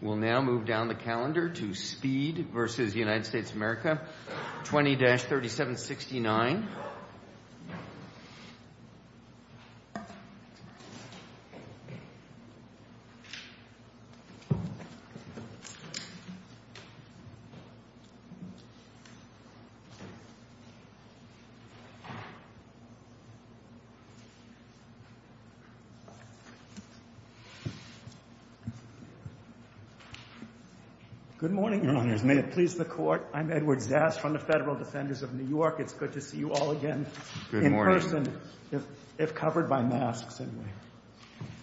We'll now move down the calendar to Speed versus United States of America, 20-3769. Good morning, Your Honors. May it please the Court. I'm Edward Zass from the Federal Defenders of New York. It's good to see you all again in person, if covered by masks, anyway.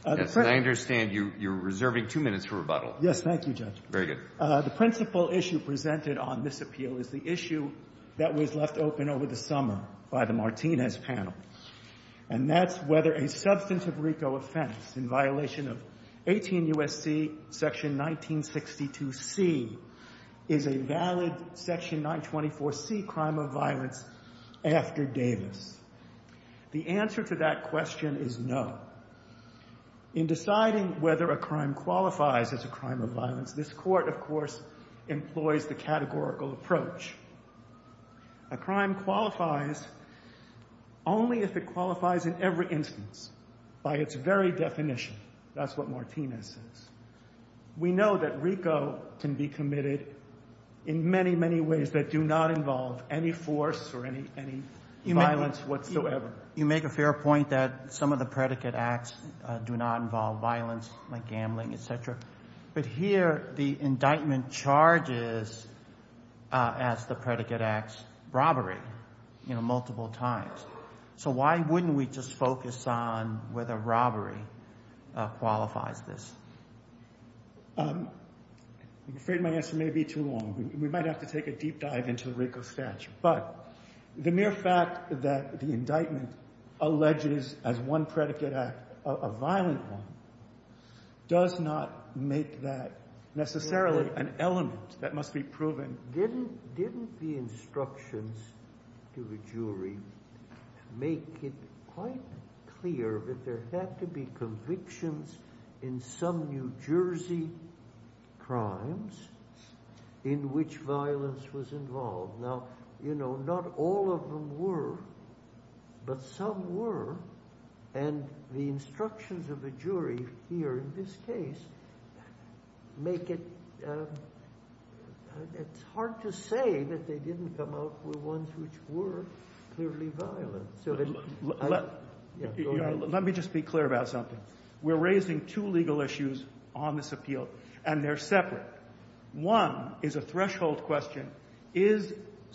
Yes, and I understand you're reserving two minutes for rebuttal. Yes, thank you, Judge. Very good. The principal issue presented on this appeal is the issue that was left open over the summer by the Martinez panel, and that's whether a substantive RICO offense in violation of 18 U.S.C. Section 1962c is a valid Section 924c crime of violence after Davis. The answer to that question is no. In deciding whether a crime qualifies as a crime of violence, this Court, of course, employs the categorical approach. A crime qualifies only if it qualifies in every instance, by its very definition. That's what Martinez says. We know that RICO can be committed in many, many ways that do not involve any force or any violence whatsoever. You make a fair point that some of the predicate acts do not involve violence, like gambling, et cetera. But here, the indictment charges, as the predicate acts, robbery, you know, multiple times. So why wouldn't we just focus on whether robbery qualifies this? I'm afraid my answer may be too long. We might have to take a deep dive into RICO statute. But the mere fact that the indictment alleges, as one predicate act, a violent one, does not make that necessarily an element that must be proven. Didn't the instructions to the jury make it quite clear that there had to be convictions in some New Jersey crimes in which violence was involved? Now, you know, not all of them were, but some were. And the instructions of the jury here in this case make it hard to say that they didn't come out with ones which were clearly violent. Let me just be clear about something. We're raising two legal issues on this appeal, and they're separate. One is a threshold question. Is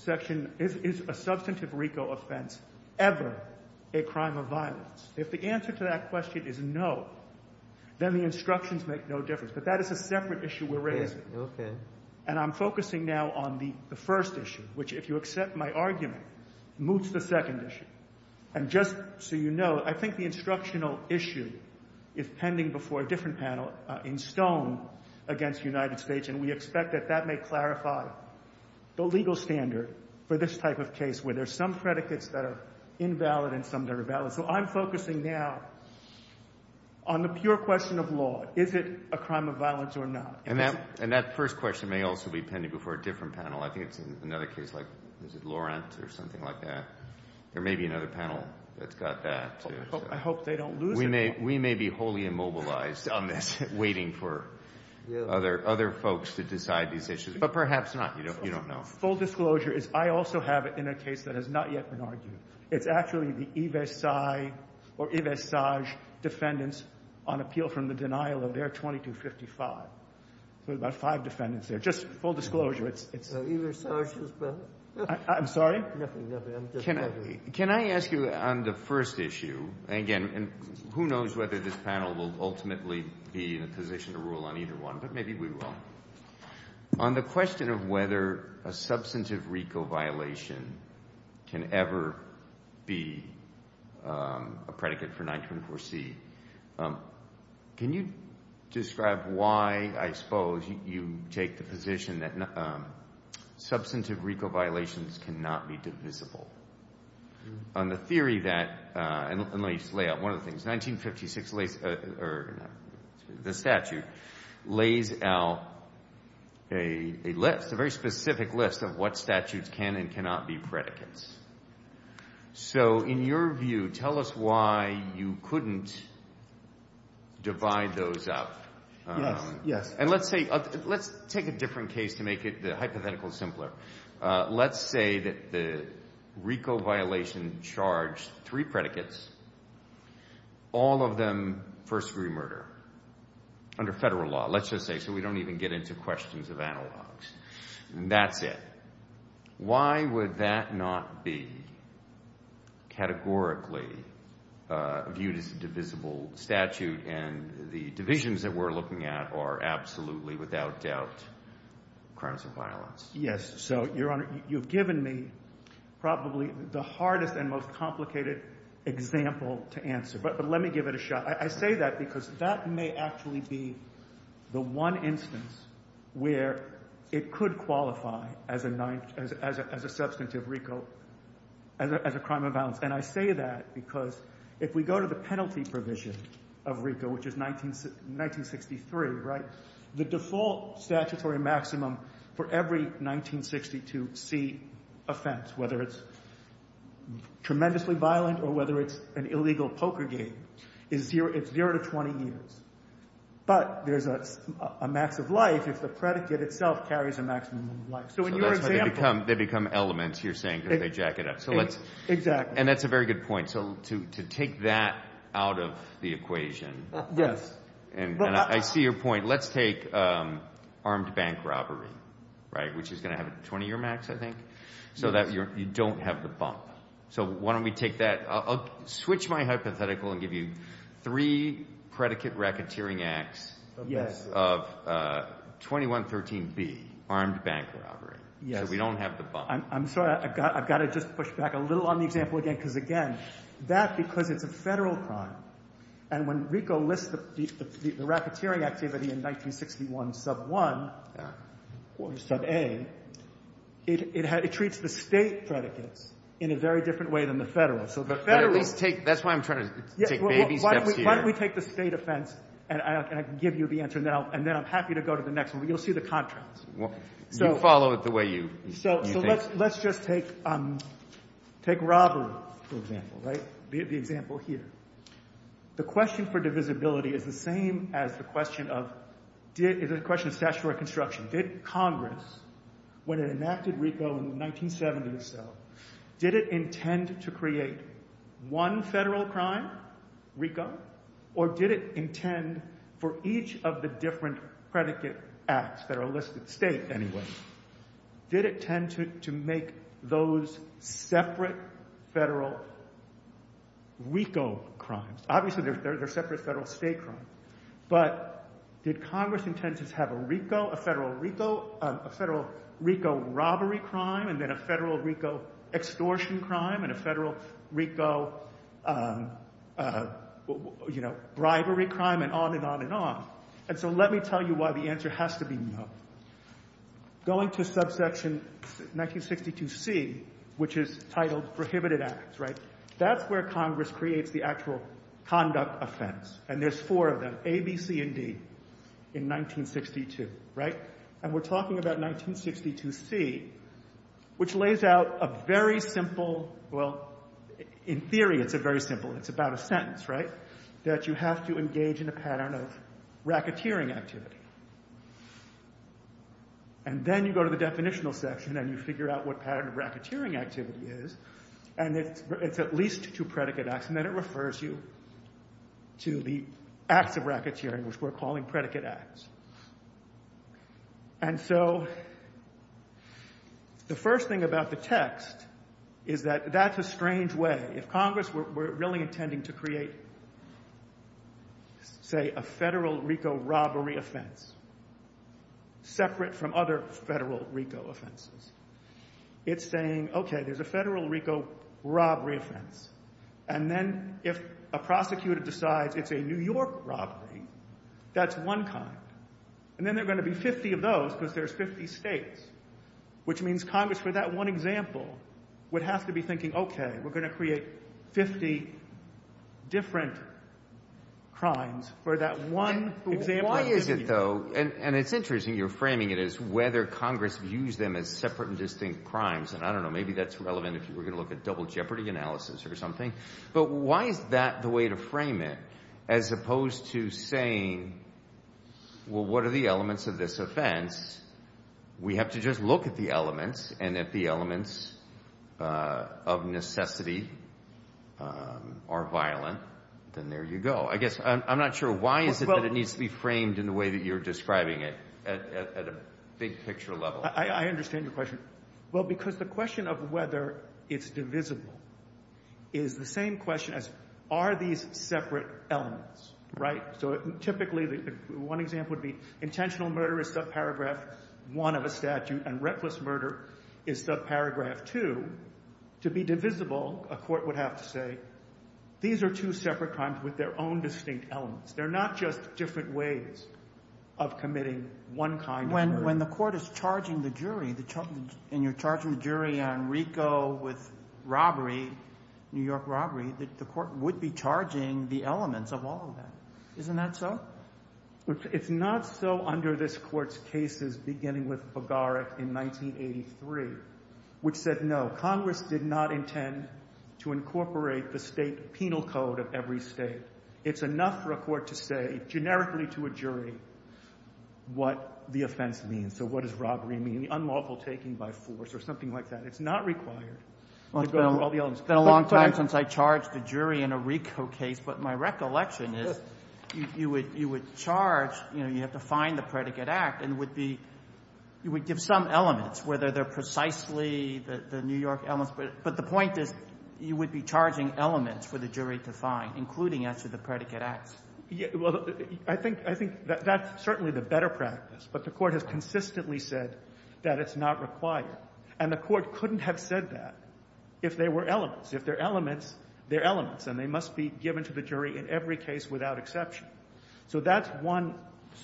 a substantive RICO offense ever a crime of violence? If the answer to that question is no, then the instructions make no difference. But that is a separate issue we're raising. And I'm focusing now on the first issue, which, if you accept my argument, moots the second issue. And just so you know, I think the instructional issue is pending before a different panel in Stone against United States. And we expect that that may clarify the legal standard for this type of case, where there's some predicates that are invalid and some that are valid. So I'm focusing now on the pure question of law. Is it a crime of violence or not? And that first question may also be pending before a different panel. I think it's another case like, is it Laurent or something like that? There may be another panel that's got that. I hope they don't lose it. We may be wholly immobilized on this, waiting for other folks to decide these issues. But perhaps not. You don't know. Full disclosure is, I also have it in a case that has not yet been argued. It's actually the Ives-Sage defendants on appeal from the denial of their 2255. So there's about five defendants there. Just full disclosure, it's the Ives-Sage defendants. I'm sorry? Nothing, nothing, I'm just wondering. Can I ask you on the first issue? Again, who knows whether this panel will ultimately be in a position to rule on either one. But maybe we will. On the question of whether a substantive RICO violation can ever be a predicate for 924C. Can you describe why, I suppose, you take the position that substantive RICO violations cannot be divisible? On the theory that, and let me just lay out one of the things, 1956 lays, or the statute lays out a list, a very specific list of what statutes can and cannot be predicates. So in your view, tell us why you couldn't divide those up. Yes, yes. And let's say, let's take a different case to make it hypothetical simpler. Let's say that the RICO violation charged three predicates, all of them first degree murder, under federal law. Let's just say, so we don't even get into questions of analogs. That's it. Why would that not be categorically viewed as a divisible statute? And the divisions that we're looking at are absolutely, without doubt, crimes of violence. Yes, so, Your Honor, you've given me probably the hardest and most complicated example to answer, but let me give it a shot. I say that because that may actually be the one instance where it could qualify as a substantive RICO, as a crime of violence. And I say that because if we go to the penalty provision of RICO, which is 1963, right? The default statutory maximum for every 1962 C offense, whether it's tremendously violent or whether it's an illegal poker game, is zero to 20 years. But there's a max of life if the predicate itself carries a maximum of life. So in your example- They become elements, you're saying, because they jack it up. Exactly. And that's a very good point. So to take that out of the equation- Yes. And I see your point. Let's take armed bank robbery, right? Which is going to have a 20-year max, I think, so that you don't have the bump. So why don't we take that? I'll switch my hypothetical and give you three predicate racketeering acts of 2113B, armed bank robbery, so we don't have the bump. I'm sorry, I've got to just push back a little on the example again, because again, that, because it's a federal crime. And when RICO lists the racketeering activity in 1961 sub 1 or sub A, it treats the state predicates in a very different way than the federal. So the federal- That's why I'm trying to take baby steps here. Why don't we take the state offense, and I can give you the answer now, and then I'm happy to go to the next one, but you'll see the contrast. You follow it the way you think. So let's just take robbery, for example, right? The example here. The question for divisibility is the same as the question of statutory construction. Did Congress, when it enacted RICO in the 1970s or so, did it intend to create one federal crime, RICO? Or did it intend for each of the different predicate acts that are listed, state anyway, did it tend to make those separate federal RICO crimes? Obviously, they're separate federal state crimes. But did Congress intend to have a RICO, a federal RICO, a federal RICO robbery crime, and then a federal RICO extortion crime, and a federal RICO bribery crime, and on and on and on? And so let me tell you why the answer has to be no. Going to subsection 1962C, which is titled prohibited acts, right? That's where Congress creates the actual conduct offense, and there's four of them, A, B, C, and D, in 1962, right? And we're talking about 1962C, which lays out a very simple, well, in theory, it's a very simple, it's about a sentence, right? That you have to engage in a pattern of racketeering activity. And then you go to the definitional section, and you figure out what pattern of racketeering activity is, and it's at least two predicate acts, and then it refers you to the acts of racketeering, which we're calling predicate acts. And so the first thing about the text is that that's a strange way. If Congress were really intending to create, say, a federal RICO robbery offense, separate from other federal RICO offenses, it's saying, okay, there's a federal RICO robbery offense, and then if a prosecutor decides it's a New York robbery, that's one kind. And then there are going to be 50 of those because there's 50 states, which means Congress, for that one example, would have to be thinking, okay, we're going to create 50 different crimes for that one example. Why is it, though, and it's interesting, you're framing it as whether Congress views them as separate and distinct crimes, and I don't know, maybe that's relevant if you were going to look at double jeopardy analysis or something. But why is that the way to frame it, as opposed to saying, well, what are the elements of this offense? We have to just look at the elements, and if the elements of necessity are violent, then there you go. I guess I'm not sure why is it that it needs to be framed in the way that you're describing it at a big picture level. I understand your question. Well, because the question of whether it's divisible is the same question as are these separate elements, right? So typically, one example would be intentional murder is subparagraph one of a statute, and reckless murder is subparagraph two. To be divisible, a court would have to say, these are two separate crimes with their own distinct elements. They're not just different ways of committing one kind of murder. But when the court is charging the jury, and you're charging the jury on RICO with robbery, New York robbery, the court would be charging the elements of all of that. Isn't that so? It's not so under this Court's cases beginning with Bogaric in 1983, which said, no, Congress did not intend to incorporate the state penal code of every state. It's enough for a court to say, generically to a jury, what the offense means. So what does robbery mean? The unlawful taking by force or something like that. It's not required to go over all the elements. It's been a long time since I charged a jury in a RICO case, but my recollection is you would charge, you know, you have to find the predicate act and would be – you would give some elements, whether they're precisely the New York elements. But the point is you would be charging elements for the jury to find, including as to the predicate acts. Well, I think that's certainly the better practice, but the court has consistently said that it's not required. And the court couldn't have said that if they were elements. If they're elements, they're elements, and they must be given to the jury in every case without exception. So that's one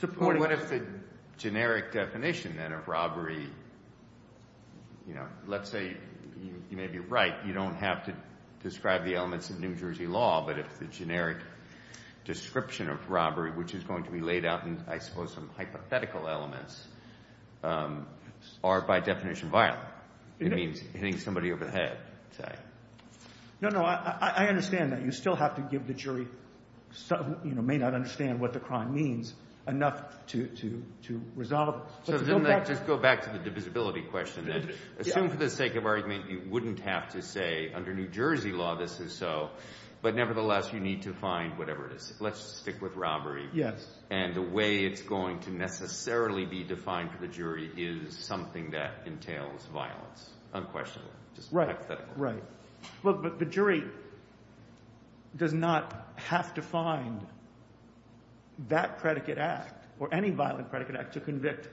supporting – What if the generic definition, then, of robbery, you know, let's say you may be right. You don't have to describe the elements of New Jersey law, but if the generic description of robbery, which is going to be laid out in, I suppose, some hypothetical elements, are by definition violent. It means hitting somebody over the head, say. No, no. I understand that. You still have to give the jury, you know, may not understand what the crime means enough to resolve it. So then let's just go back to the divisibility question, then. Assume for the sake of argument you wouldn't have to say under New Jersey law this is so, but nevertheless you need to find whatever it is. Let's stick with robbery. Yes. And the way it's going to necessarily be defined for the jury is something that entails violence, unquestionably, just hypothetically. Right. Look, but the jury does not have to find that predicate act or any violent predicate act to convict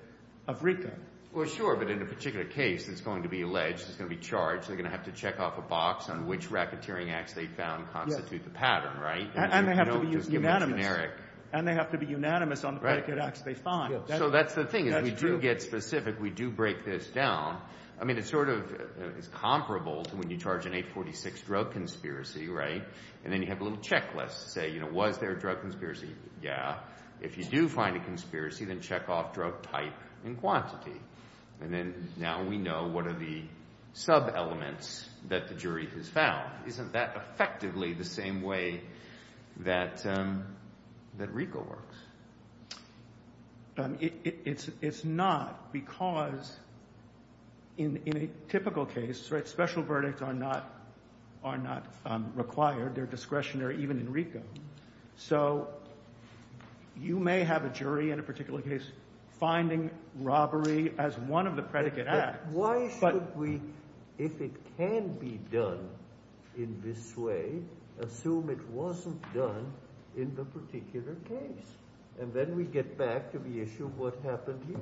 a victim. Well, sure, but in a particular case it's going to be alleged, it's going to be charged. They're going to have to check off a box on which racketeering acts they found constitute the pattern, right? And they have to be unanimous. Just give them a generic – And they have to be unanimous on the predicate acts they find. So that's the thing is we do get specific. We do break this down. I mean it sort of is comparable to when you charge an 846 drug conspiracy, right? And then you have a little checklist to say, you know, was there a drug conspiracy? Yeah. If you do find a conspiracy, then check off drug type and quantity. And then now we know what are the sub-elements that the jury has found. Isn't that effectively the same way that RICO works? It's not because in a typical case special verdicts are not required. They're discretionary even in RICO. So you may have a jury in a particular case finding robbery as one of the predicate acts. Why should we, if it can be done in this way, assume it wasn't done in the particular case? And then we get back to the issue of what happened here.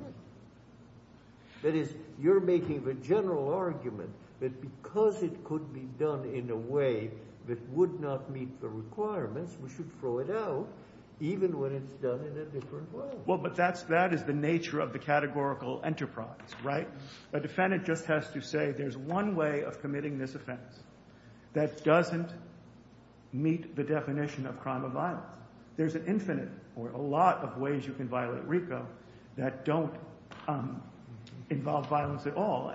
That is, you're making the general argument that because it could be done in a way that would not meet the requirements, we should throw it out even when it's done in a different way. Well, but that is the nature of the categorical enterprise, right? A defendant just has to say there's one way of committing this offense that doesn't meet the definition of crime of violence. There's an infinite or a lot of ways you can violate RICO that don't involve violence at all.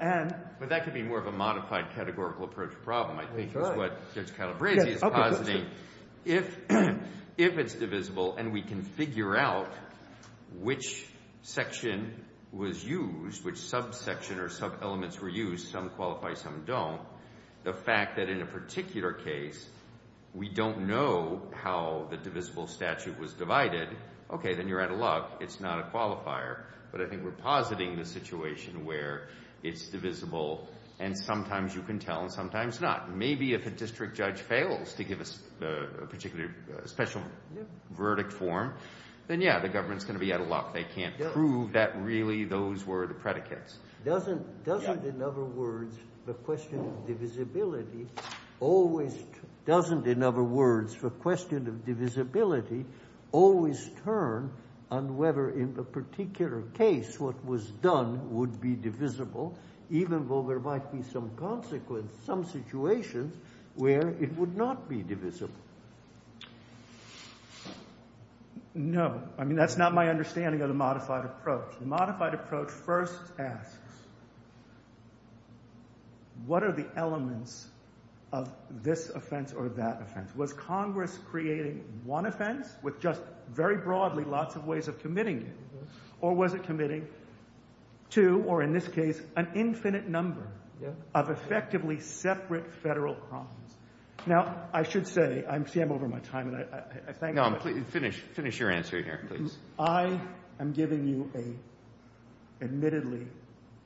But that could be more of a modified categorical approach problem, I think, is what Judge Calabresi is positing. If it's divisible and we can figure out which section was used, which subsection or sub-elements were used, some qualify, some don't, the fact that in a particular case we don't know how the divisible statute was divided, okay, then you're out of luck. It's not a qualifier. But I think we're positing the situation where it's divisible and sometimes you can tell and sometimes not. Maybe if a district judge fails to give a particular special verdict form, then, yeah, the government's going to be out of luck. They can't prove that really those were the predicates. Doesn't, in other words, the question of divisibility always turn on whether in a particular case what was done would be divisible, even though there might be some consequence, some situations where it would not be divisible? No. I mean, that's not my understanding of the modified approach. The modified approach first asks what are the elements of this offense or that offense? Was Congress creating one offense with just very broadly lots of ways of committing it, or was it committing two or, in this case, an infinite number of effectively separate federal crimes? Now, I should say, see, I'm over my time. No, finish your answer here, please. I am giving you an admittedly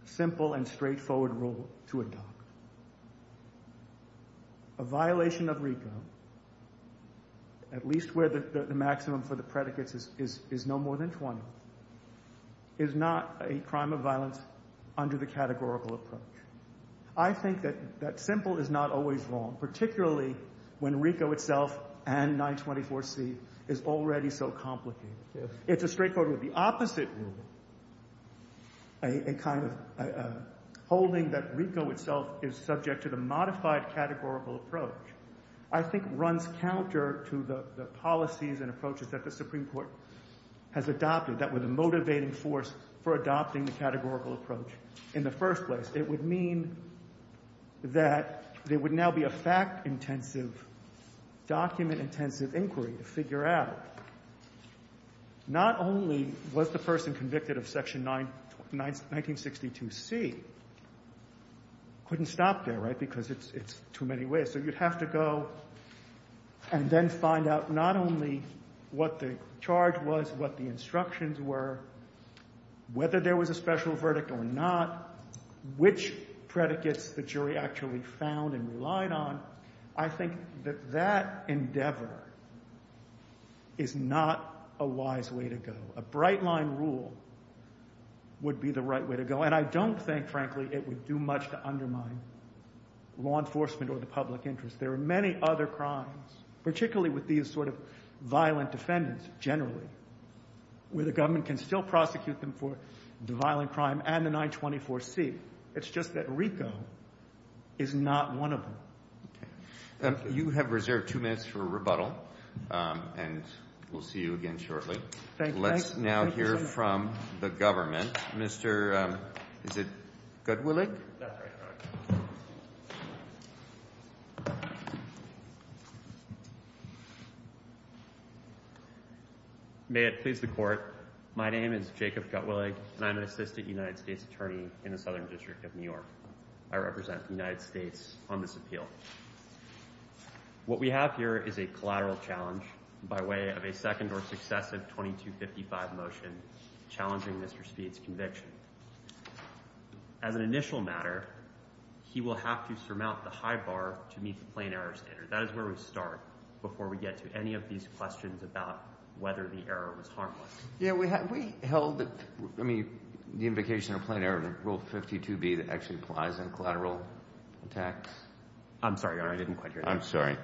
simple and straightforward rule to adopt. A violation of RICO, at least where the maximum for the predicates is no more than 20, is not a crime of violence under the categorical approach. I think that simple is not always wrong, particularly when RICO itself and 924C is already so complicated. It's a straightforward rule. The opposite rule, a kind of holding that RICO itself is subject to the modified categorical approach, I think runs counter to the policies and approaches that the Supreme Court has adopted that were the motivating force for adopting the categorical approach in the first place. it would mean that there would now be a fact-intensive, document-intensive inquiry to figure out, not only was the person convicted of Section 1962C, couldn't stop there, right, because it's too many ways. So you'd have to go and then find out not only what the charge was, what the instructions were, whether there was a special verdict or not, which predicates the jury actually found and relied on. I think that that endeavor is not a wise way to go. A bright-line rule would be the right way to go, and I don't think, frankly, it would do much to undermine law enforcement or the public interest. There are many other crimes, particularly with these sort of violent defendants generally, where the government can still prosecute them for the violent crime and the 924C. It's just that RICO is not one of them. Okay. You have reserved two minutes for rebuttal, and we'll see you again shortly. Thank you. Let's now hear from the government. Mr. Is it Gutwillig? That's right. May it please the Court. My name is Jacob Gutwillig, and I'm an assistant United States attorney in the Southern District of New York. I represent the United States on this appeal. What we have here is a collateral challenge by way of a second or successive 2255 motion challenging Mr. Speed's conviction. As an initial matter, he will have to surmount the high bar to meet the plain error standard. That is where we start before we get to any of these questions about whether the error was harmless. Have we held the invocation or plain error of Rule 52B that actually applies on collateral attacks? I'm sorry, Your Honor. I didn't quite hear that. I'm sorry.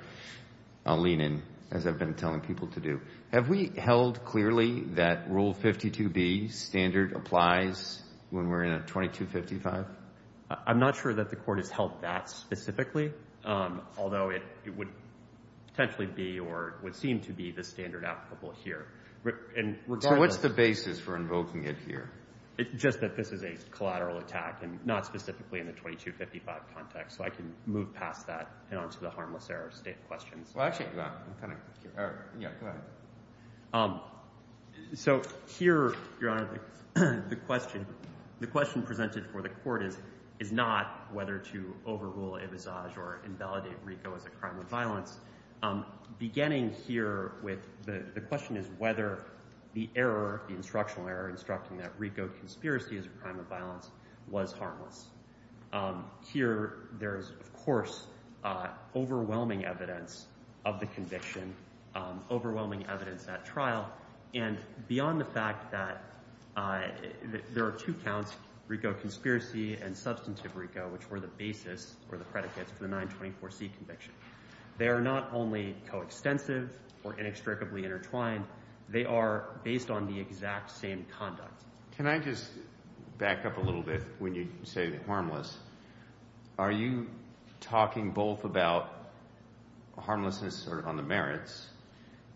I'll lean in, as I've been telling people to do. Have we held clearly that Rule 52B standard applies when we're in a 2255? I'm not sure that the Court has held that specifically, although it would potentially be or would seem to be the standard applicable here. What's the basis for invoking it here? It's just that this is a collateral attack and not specifically in the 2255 context. So I can move past that and on to the harmless error state of questions. Well, actually, go ahead. So here, Your Honor, the question presented for the Court is not whether to overrule Avisage or invalidate RICO as a crime of violence. Beginning here with the question is whether the error, the instructional error instructing that RICO conspiracy is a crime of violence was harmless. Here, there is, of course, overwhelming evidence of the conviction, overwhelming evidence at trial. And beyond the fact that there are two counts, RICO conspiracy and substantive RICO, which were the basis or the predicates for the 924C conviction. They are not only coextensive or inextricably intertwined. They are based on the exact same conduct. Can I just back up a little bit when you say harmless? Are you talking both about harmlessness on the merits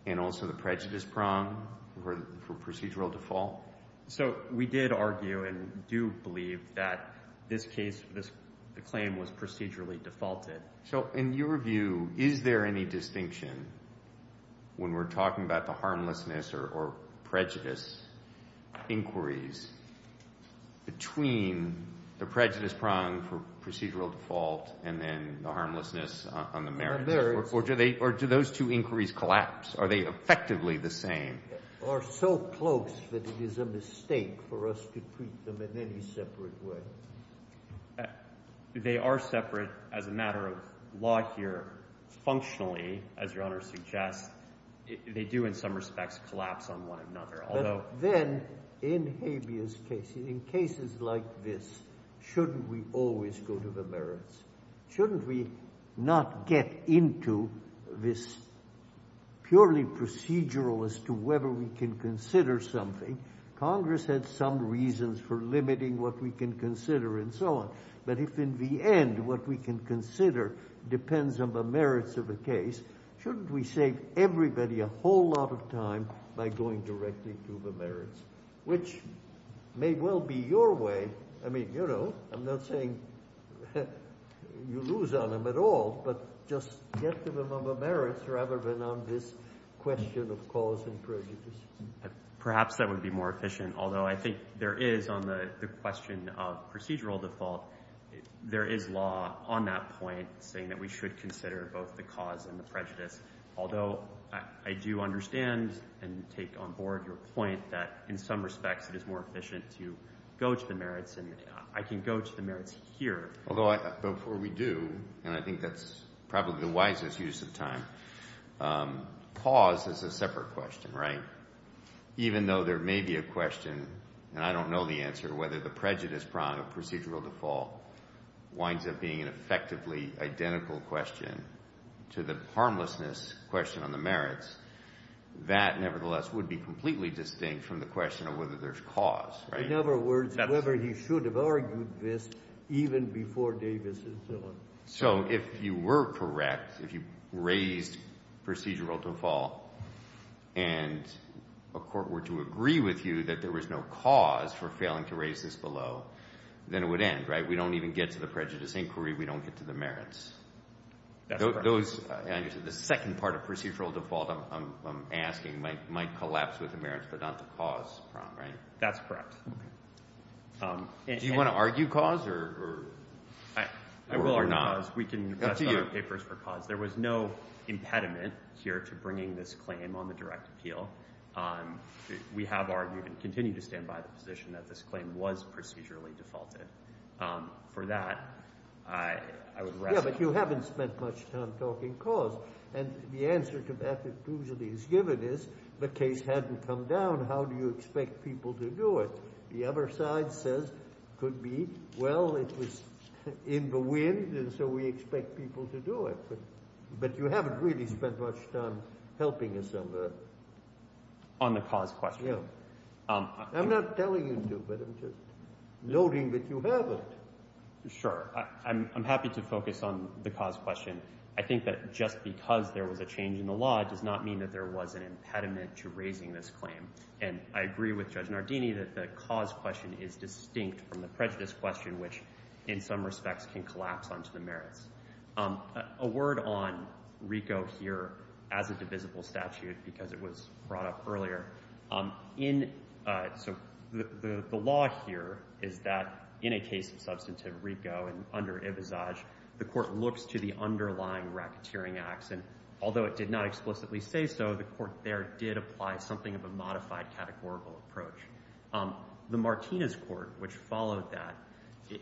and also the prejudice prong for procedural default? So we did argue and do believe that this case, the claim was procedurally defaulted. So in your view, is there any distinction when we're talking about the harmlessness or prejudice inquiries between the prejudice prong for procedural default and then the harmlessness on the merits? Or do those two inquiries collapse? Are they effectively the same? Or so close that it is a mistake for us to treat them in any separate way? They are separate as a matter of law here. Functionally, as Your Honor suggests, they do in some respects collapse on one another. Although then in habeas cases, in cases like this, shouldn't we always go to the merits? Shouldn't we not get into this purely procedural as to whether we can consider something? Congress had some reasons for limiting what we can consider and so on. But if in the end what we can consider depends on the merits of the case, shouldn't we save everybody a whole lot of time by going directly to the merits, which may well be your way. I mean, you know, I'm not saying you lose on them at all, but just get to them on the merits rather than on this question of cause and prejudice. Perhaps that would be more efficient, although I think there is on the question of procedural default, there is law on that point saying that we should consider both the cause and the prejudice. Although I do understand and take on board your point that in some respects it is more efficient to go to the merits and I can go to the merits here. Although before we do, and I think that's probably the wisest use of time, cause is a separate question, right? Even though there may be a question, and I don't know the answer, whether the prejudice prong of procedural default winds up being an effectively identical question to the harmlessness question on the merits, that nevertheless would be completely distinct from the question of whether there's cause. In other words, whether he should have argued this even before Davis is gone. So if you were correct, if you raised procedural default and a court were to agree with you that there was no cause for failing to raise this below, then it would end, right? We don't even get to the prejudice inquiry. We don't get to the merits. That's correct. The second part of procedural default I'm asking might collapse with the merits, but not the cause prong, right? That's correct. Okay. Do you want to argue cause or? I will or not. We can pass our papers for cause. There was no impediment here to bringing this claim on the direct appeal. We have argued and continue to stand by the position that this claim was procedurally defaulted. For that, I would rest. Yeah, but you haven't spent much time talking cause. And the answer to that that usually is given is the case hadn't come down. How do you expect people to do it? The other side says could be, well, it was in the wind, and so we expect people to do it. But you haven't really spent much time helping us on the. On the cause question. Yeah. I'm not telling you to, but I'm just noting that you haven't. Sure. I'm happy to focus on the cause question. I think that just because there was a change in the law does not mean that there was an impediment to raising this claim. And I agree with Judge Nardini that the cause question is distinct from the prejudice question, which in some respects can collapse onto the merits. A word on RICO here as a divisible statute, because it was brought up earlier. So the law here is that in a case of substantive RICO and under Ibizaj, the court looks to the underlying racketeering acts. And although it did not explicitly say so, the court there did apply something of a modified categorical approach. The Martinez court, which followed that,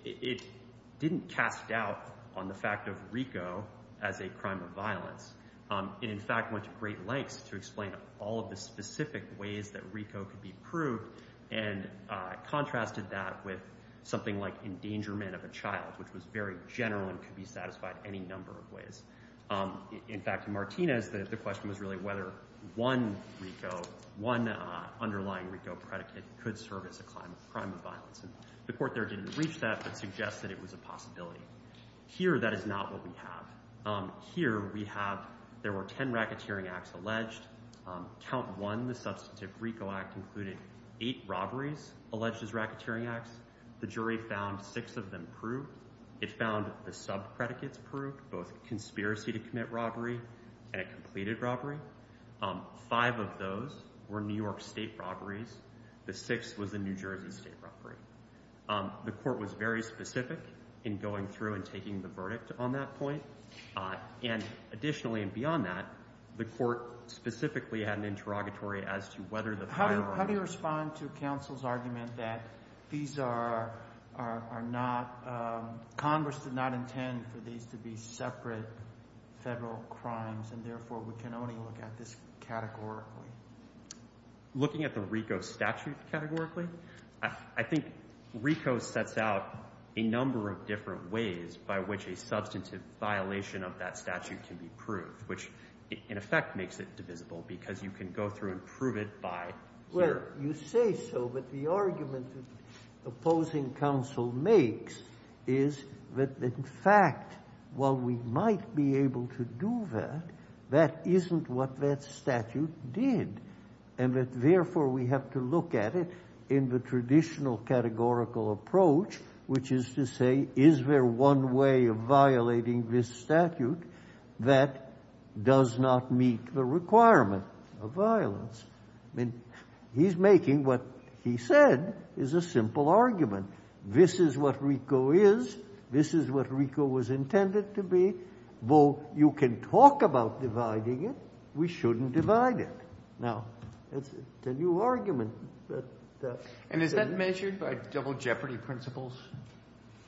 it didn't cast doubt on the fact of RICO as a crime of violence. It, in fact, went to great lengths to explain all of the specific ways that RICO could be proved and contrasted that with something like endangerment of a child, which was very general and could be satisfied any number of ways. In fact, in Martinez, the question was really whether one RICO, one underlying RICO predicate could serve as a crime of violence. And the court there didn't reach that, but suggested it was a possibility. Here, that is not what we have. Here, we have there were 10 racketeering acts alleged. Count one, the substantive RICO act, included eight robberies alleged as racketeering acts. The jury found six of them proved. It found the sub-predicates proved, both conspiracy to commit robbery and a completed robbery. Five of those were New York state robberies. The sixth was the New Jersey state robbery. The court was very specific in going through and taking the verdict on that point. And additionally, and beyond that, the court specifically had an interrogatory as to whether the prior— How do you respond to counsel's argument that these are not—Congress did not intend for these to be separate federal crimes, and therefore we can only look at this categorically? Looking at the RICO statute categorically? I think RICO sets out a number of different ways by which a substantive violation of that statute can be proved, which in effect makes it divisible because you can go through and prove it by jury. You say so, but the argument opposing counsel makes is that in fact while we might be able to do that, that isn't what that statute did. And that therefore we have to look at it in the traditional categorical approach, which is to say, is there one way of violating this statute that does not meet the requirement of violence? I mean, he's making what he said is a simple argument. This is what RICO is. This is what RICO was intended to be. Though you can talk about dividing it, we shouldn't divide it. Now, that's a new argument. But— And is that measured by double jeopardy principles?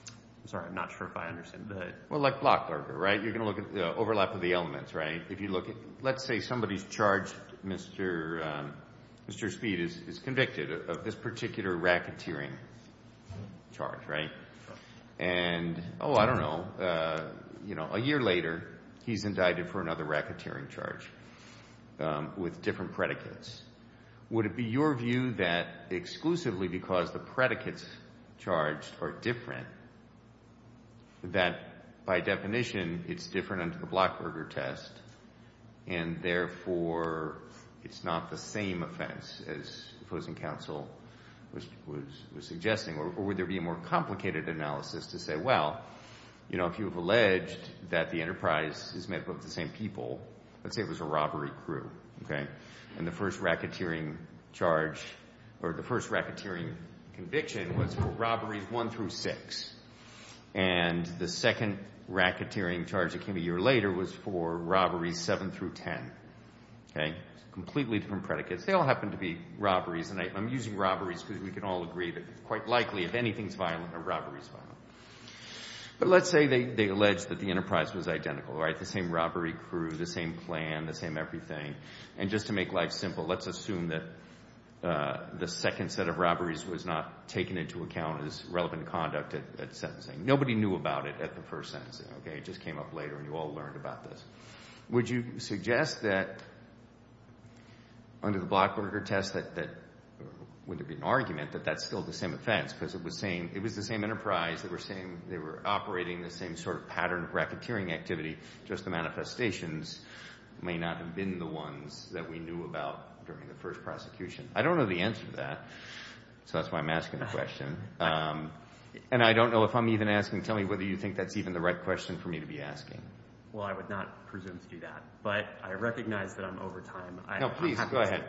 I'm sorry. I'm not sure if I understand that. Well, like block burglar, right? You're going to look at the overlap of the elements, right? If you look at—let's say somebody's charged, Mr. Speed is convicted of this particular racketeering charge, right? And, oh, I don't know, a year later he's indicted for another racketeering charge with different predicates. Would it be your view that exclusively because the predicates charged are different, that by definition it's different under the block burglar test, and therefore it's not the same offense as opposing counsel was suggesting? Or would there be a more complicated analysis to say, well, you know, if you have alleged that the enterprise is made up of the same people, let's say it was a robbery crew, okay? And the first racketeering charge—or the first racketeering conviction was for robberies one through six. And the second racketeering charge that came a year later was for robberies seven through ten, okay? Completely different predicates. They all happen to be robberies. And I'm using robberies because we can all agree that it's quite likely if anything's violent, a robbery's violent. But let's say they allege that the enterprise was identical, right? The same robbery crew, the same plan, the same everything. And just to make life simple, let's assume that the second set of robberies was not taken into account as relevant conduct at sentencing. Nobody knew about it at the first sentencing, okay? It just came up later, and you all learned about this. Would you suggest that under the Blockberger test that—would there be an argument that that's still the same offense because it was the same enterprise? They were operating the same sort of pattern of racketeering activity. Just the manifestations may not have been the ones that we knew about during the first prosecution. I don't know the answer to that, so that's why I'm asking the question. And I don't know if I'm even asking—tell me whether you think that's even the right question for me to be asking. Well, I would not presume to do that. But I recognize that I'm over time. No, please, go ahead.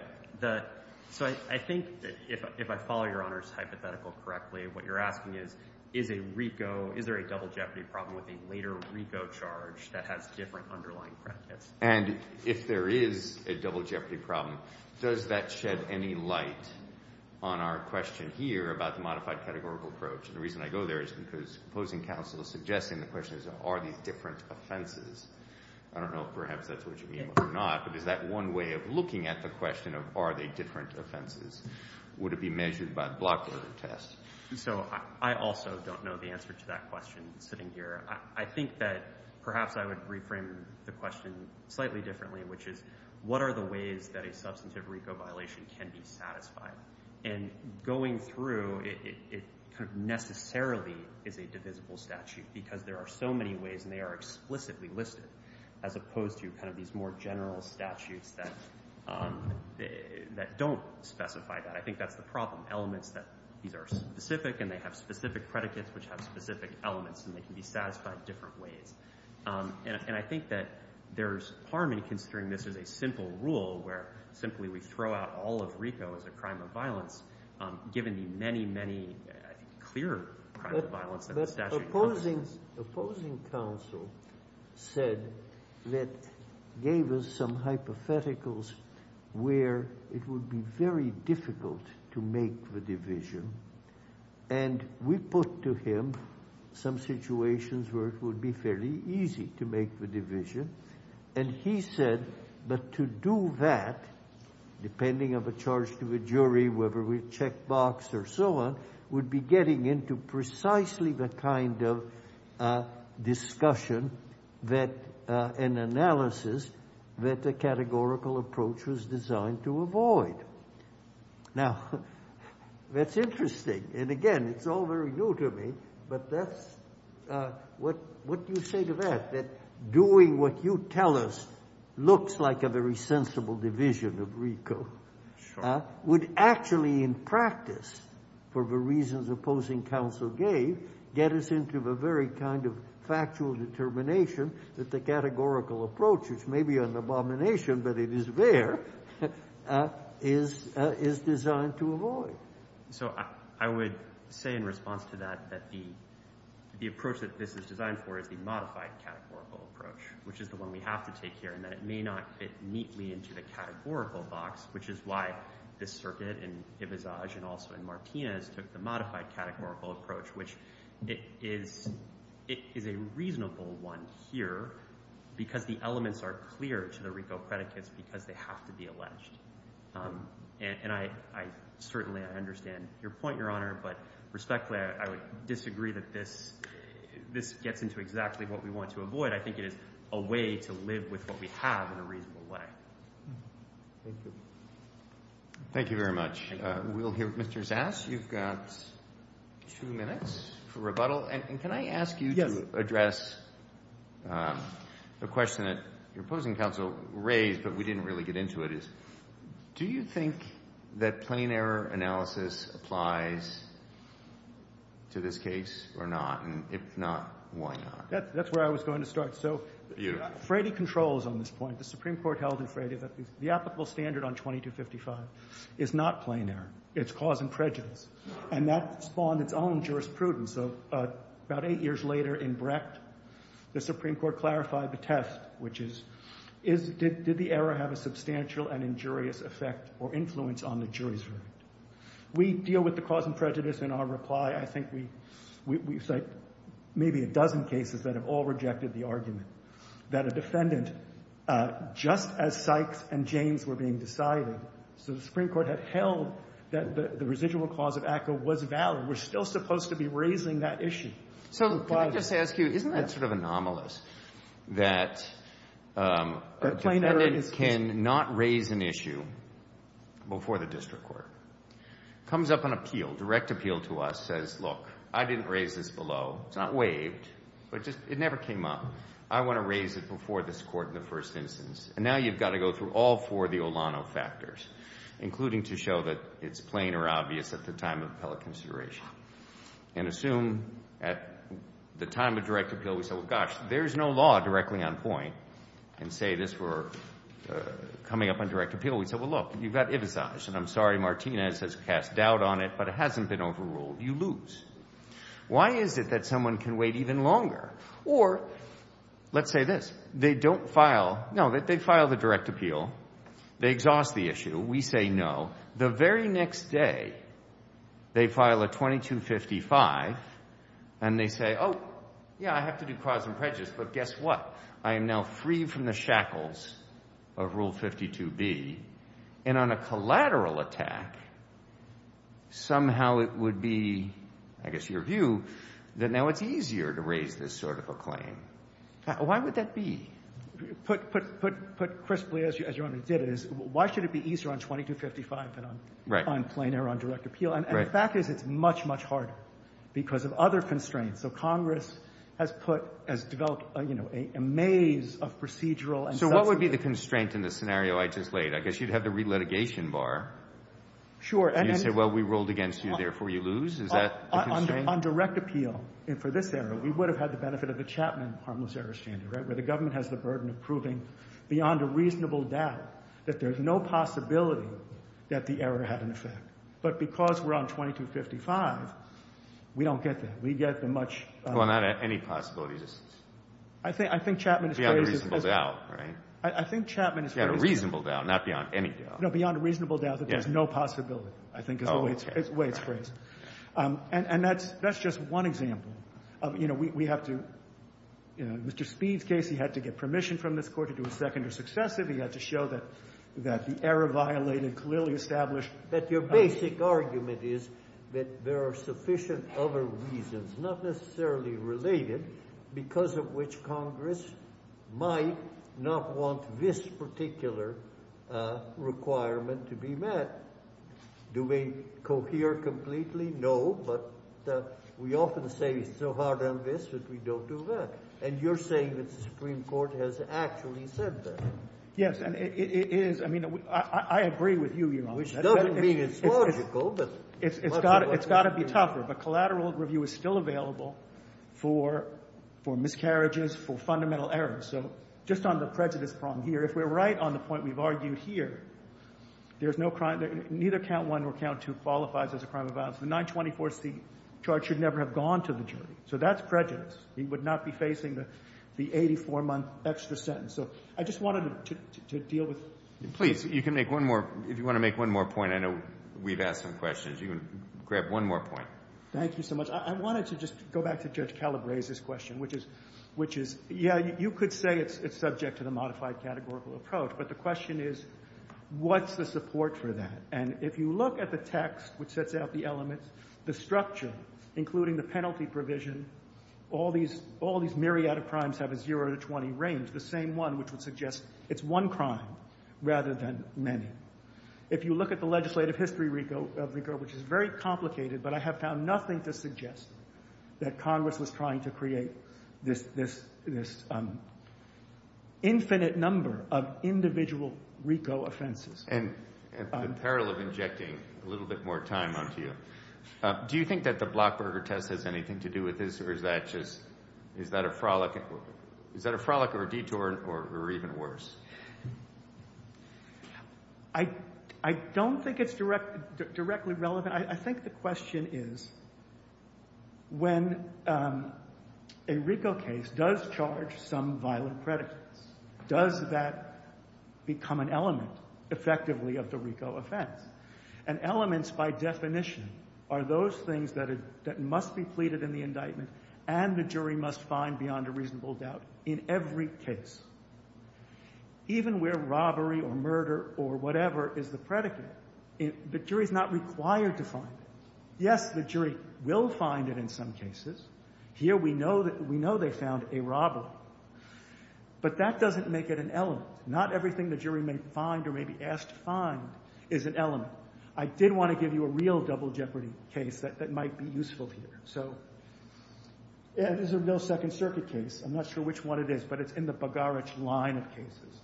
So I think if I follow Your Honor's hypothetical correctly, what you're asking is, is a RICO— is there a double jeopardy problem with a later RICO charge that has different underlying predicates? And if there is a double jeopardy problem, does that shed any light on our question here about the modified categorical approach? And the reason I go there is because opposing counsel is suggesting the question is, are these different offenses? I don't know if perhaps that's what you mean or not, but is that one way of looking at the question of are they different offenses? Would it be measured by the Blockberger test? So I also don't know the answer to that question sitting here. I think that perhaps I would reframe the question slightly differently, which is, what are the ways that a substantive RICO violation can be satisfied? And going through, it kind of necessarily is a divisible statute because there are so many ways, and they are explicitly listed, as opposed to kind of these more general statutes that don't specify that. I think that's the problem, elements that these are specific, and they have specific predicates which have specific elements, and they can be satisfied different ways. And I think that there's harm in considering this as a simple rule where simply we throw out all of RICO as a crime of violence, given the many, many clear crimes of violence that the statute covers. The opposing counsel said that, gave us some hypotheticals where it would be very difficult to make the division, and we put to him some situations where it would be fairly easy to make the division, and he said, but to do that, depending on the charge to the jury, whether we check box or so on, would be getting into precisely the kind of discussion and analysis that the categorical approach was designed to avoid. Now, that's interesting, and again, it's all very new to me, but what do you say to that? That doing what you tell us looks like a very sensible division of RICO would actually, in practice, for the reasons opposing counsel gave, get us into the very kind of factual determination that the categorical approach, which may be an abomination, but it is there, is designed to avoid. So I would say in response to that that the approach that this is designed for is the modified categorical approach, which is the one we have to take here, and that it may not fit neatly into the categorical box, which is why this circuit in Ibizaj and also in Martinez took the modified categorical approach, which it is a reasonable one here because the elements are clear to the RICO predicates because they have to be alleged. And I certainly understand your point, Your Honor, but respectfully, I would disagree that this gets into exactly what we want to avoid. I think it is a way to live with what we have in a reasonable way. Thank you. Thank you very much. We'll hear from Mr. Zass. You've got two minutes for rebuttal. And can I ask you to address the question that your opposing counsel raised, but we didn't really get into it, is do you think that plain error analysis applies to this case or not? And if not, why not? That's where I was going to start. So Frady controls on this point. The Supreme Court held in Frady that the applicable standard on 2255 is not plain error. It's cause and prejudice. And that spawned its own jurisprudence. About eight years later in Brecht, the Supreme Court clarified the test, which is did the error have a substantial and injurious effect or influence on the jury's verdict? We deal with the cause and prejudice in our reply. I think we cite maybe a dozen cases that have all rejected the argument that a defendant, just as Sykes and James were being decided, so the Supreme Court had held that the residual clause of ACCA was valid. We're still supposed to be raising that issue. So can I just ask you, isn't that sort of anomalous that a defendant can not raise an issue before the district court? Comes up on appeal, direct appeal to us, says, look, I didn't raise this below. It's not waived, but it never came up. I want to raise it before this court in the first instance. And now you've got to go through all four of the Olano factors, including to show that it's plain or obvious at the time of appellate consideration. And assume at the time of direct appeal, we say, well, gosh, there's no law directly on point, and say this for coming up on direct appeal. We say, well, look, you've got Ivisage, and I'm sorry Martinez has cast doubt on it, but it hasn't been overruled. You lose. Why is it that someone can wait even longer? Or let's say this. They don't file, no, they file the direct appeal. They exhaust the issue. We say no. The very next day, they file a 2255, and they say, oh, yeah, I have to do cause and prejudice, but guess what? I am now free from the shackles of Rule 52B, and on a collateral attack, somehow it would be, I guess, your view, that now it's easier to raise this sort of a claim. Why would that be? Put crisply, as you already did, is why should it be easier on 2255 than on plain or on direct appeal? And the fact is it's much, much harder because of other constraints. So Congress has put, has developed, you know, a maze of procedural and substantive. So what would be the constraint in the scenario I just laid? I guess you'd have the relitigation bar. Sure. You'd say, well, we ruled against you, therefore you lose. Is that the constraint? On direct appeal, for this error, we would have had the benefit of the Chapman harmless errors standard, right, where the government has the burden of proving beyond a reasonable doubt that there's no possibility that the error had an effect. But because we're on 2255, we don't get that. We get the much — Well, not at any possibility distance. I think Chapman's phrase is — Beyond a reasonable doubt, right? I think Chapman's phrase is — Beyond a reasonable doubt, not beyond any doubt. No, beyond a reasonable doubt that there's no possibility, I think, is the way it's phrased. And that's just one example. You know, we have to — Mr. Speed's case, he had to get permission from this Court to do a second or successive. He had to show that the error violated clearly established — But your basic argument is that there are sufficient other reasons, not necessarily related, because of which Congress might not want this particular requirement to be met. Do we cohere completely? No. But we often say it's so hard on this that we don't do that. And you're saying that the Supreme Court has actually said that. Yes. And it is. I mean, I agree with you, Your Honor. Which doesn't mean it's logical, but — It's got to be tougher. But collateral review is still available for miscarriages, for fundamental errors. So just on the prejudice problem here, if we're right on the point we've argued here, there's no — neither count one nor count two qualifies as a crime of violence. So that's prejudice. He would not be facing the 84-month extra sentence. So I just wanted to deal with — Please, you can make one more — if you want to make one more point, I know we've asked some questions. You can grab one more point. Thank you so much. I wanted to just go back to Judge Caleb Ray's question, which is — yeah, you could say it's subject to the modified categorical approach. But the question is, what's the support for that? And if you look at the text, which sets out the elements, the structure, including the penalty provision, all these myriad of crimes have a zero to 20 range, the same one, which would suggest it's one crime rather than many. If you look at the legislative history of RICO, which is very complicated, but I have found nothing to suggest that Congress was trying to create this infinite number of individual RICO offenses. And the peril of injecting a little bit more time onto you. Do you think that the Blockberger test has anything to do with this, or is that just — is that a frolic or a detour or even worse? I don't think it's directly relevant. I think the question is, when a RICO case does charge some violent predicates, does that become an element effectively of the RICO offense? And elements, by definition, are those things that must be pleaded in the indictment and the jury must find beyond a reasonable doubt in every case. Even where robbery or murder or whatever is the predicate, the jury is not required to find it. Yes, the jury will find it in some cases. Here we know they found a robbery. But that doesn't make it an element. Not everything the jury may find or may be asked to find is an element. I did want to give you a real double jeopardy case that might be useful here. This is a real Second Circuit case. I'm not sure which one it is, but it's in the Bogarich line of cases.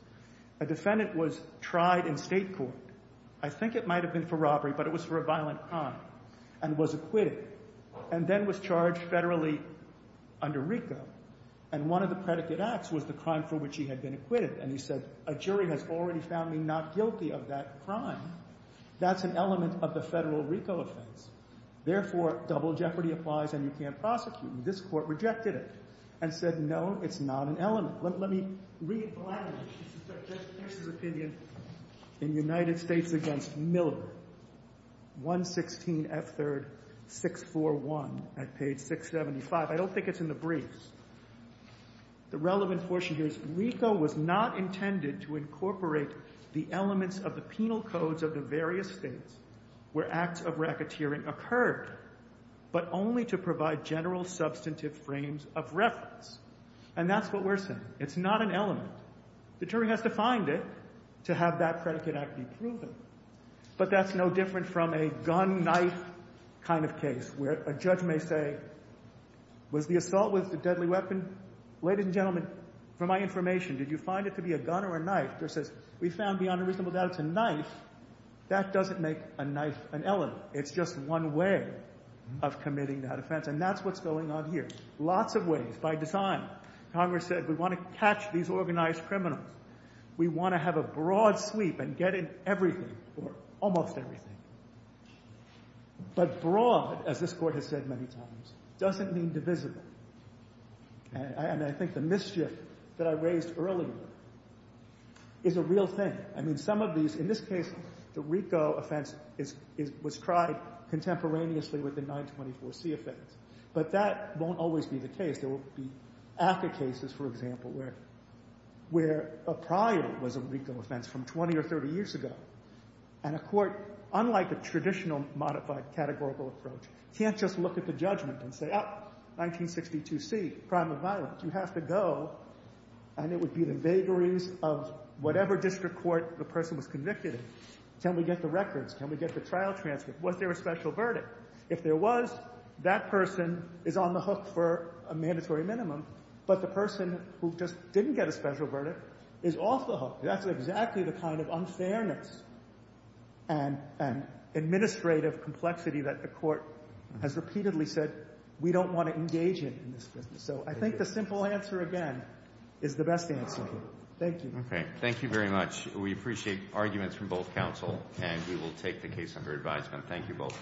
A defendant was tried in state court. I think it might have been for robbery, but it was for a violent crime and was acquitted and then was charged federally under RICO. And one of the predicate acts was the crime for which he had been acquitted. And he said, a jury has already found me not guilty of that crime. That's an element of the federal RICO offense. Therefore, double jeopardy applies and you can't prosecute me. This court rejected it and said, no, it's not an element. Let me read blatantly Justice Pierce's opinion in United States against Miller, 116F3rd 641 at page 675. I don't think it's in the briefs. The relevant portion here is RICO was not intended to incorporate the elements of the penal codes of the various states where acts of racketeering occurred, but only to provide general substantive frames of reference. And that's what we're saying. It's not an element. The jury has to find it to have that predicate act be proven. But that's no different from a gun-knife kind of case where a judge may say, was the assault with a deadly weapon? Ladies and gentlemen, for my information, did you find it to be a gun or a knife? We found beyond a reasonable doubt it's a knife. That doesn't make a knife an element. It's just one way of committing that offense. And that's what's going on here. Lots of ways. By design. Congress said we want to catch these organized criminals. We want to have a broad sweep and get in everything or almost everything. But broad, as this court has said many times, doesn't mean divisible. And I think the mischief that I raised earlier is a real thing. I mean, some of these, in this case, the RICO offense was tried contemporaneously with the 924C offense. But that won't always be the case. There will be ACCA cases, for example, where a prior was a RICO offense from 20 or 30 years ago. And a court, unlike a traditional modified categorical approach, can't just look at the judgment and say, Oh, 1962C, crime of violence, you have to go. And it would be the vagaries of whatever district court the person was convicted in. Can we get the records? Can we get the trial transcript? Was there a special verdict? If there was, that person is on the hook for a mandatory minimum. But the person who just didn't get a special verdict is off the hook. That's exactly the kind of unfairness and administrative complexity that the court has repeatedly said we don't want to engage in this business. So I think the simple answer, again, is the best answer. Thank you. Okay. Thank you very much. We appreciate arguments from both counsel, and we will take the case under advisement. Thank you both.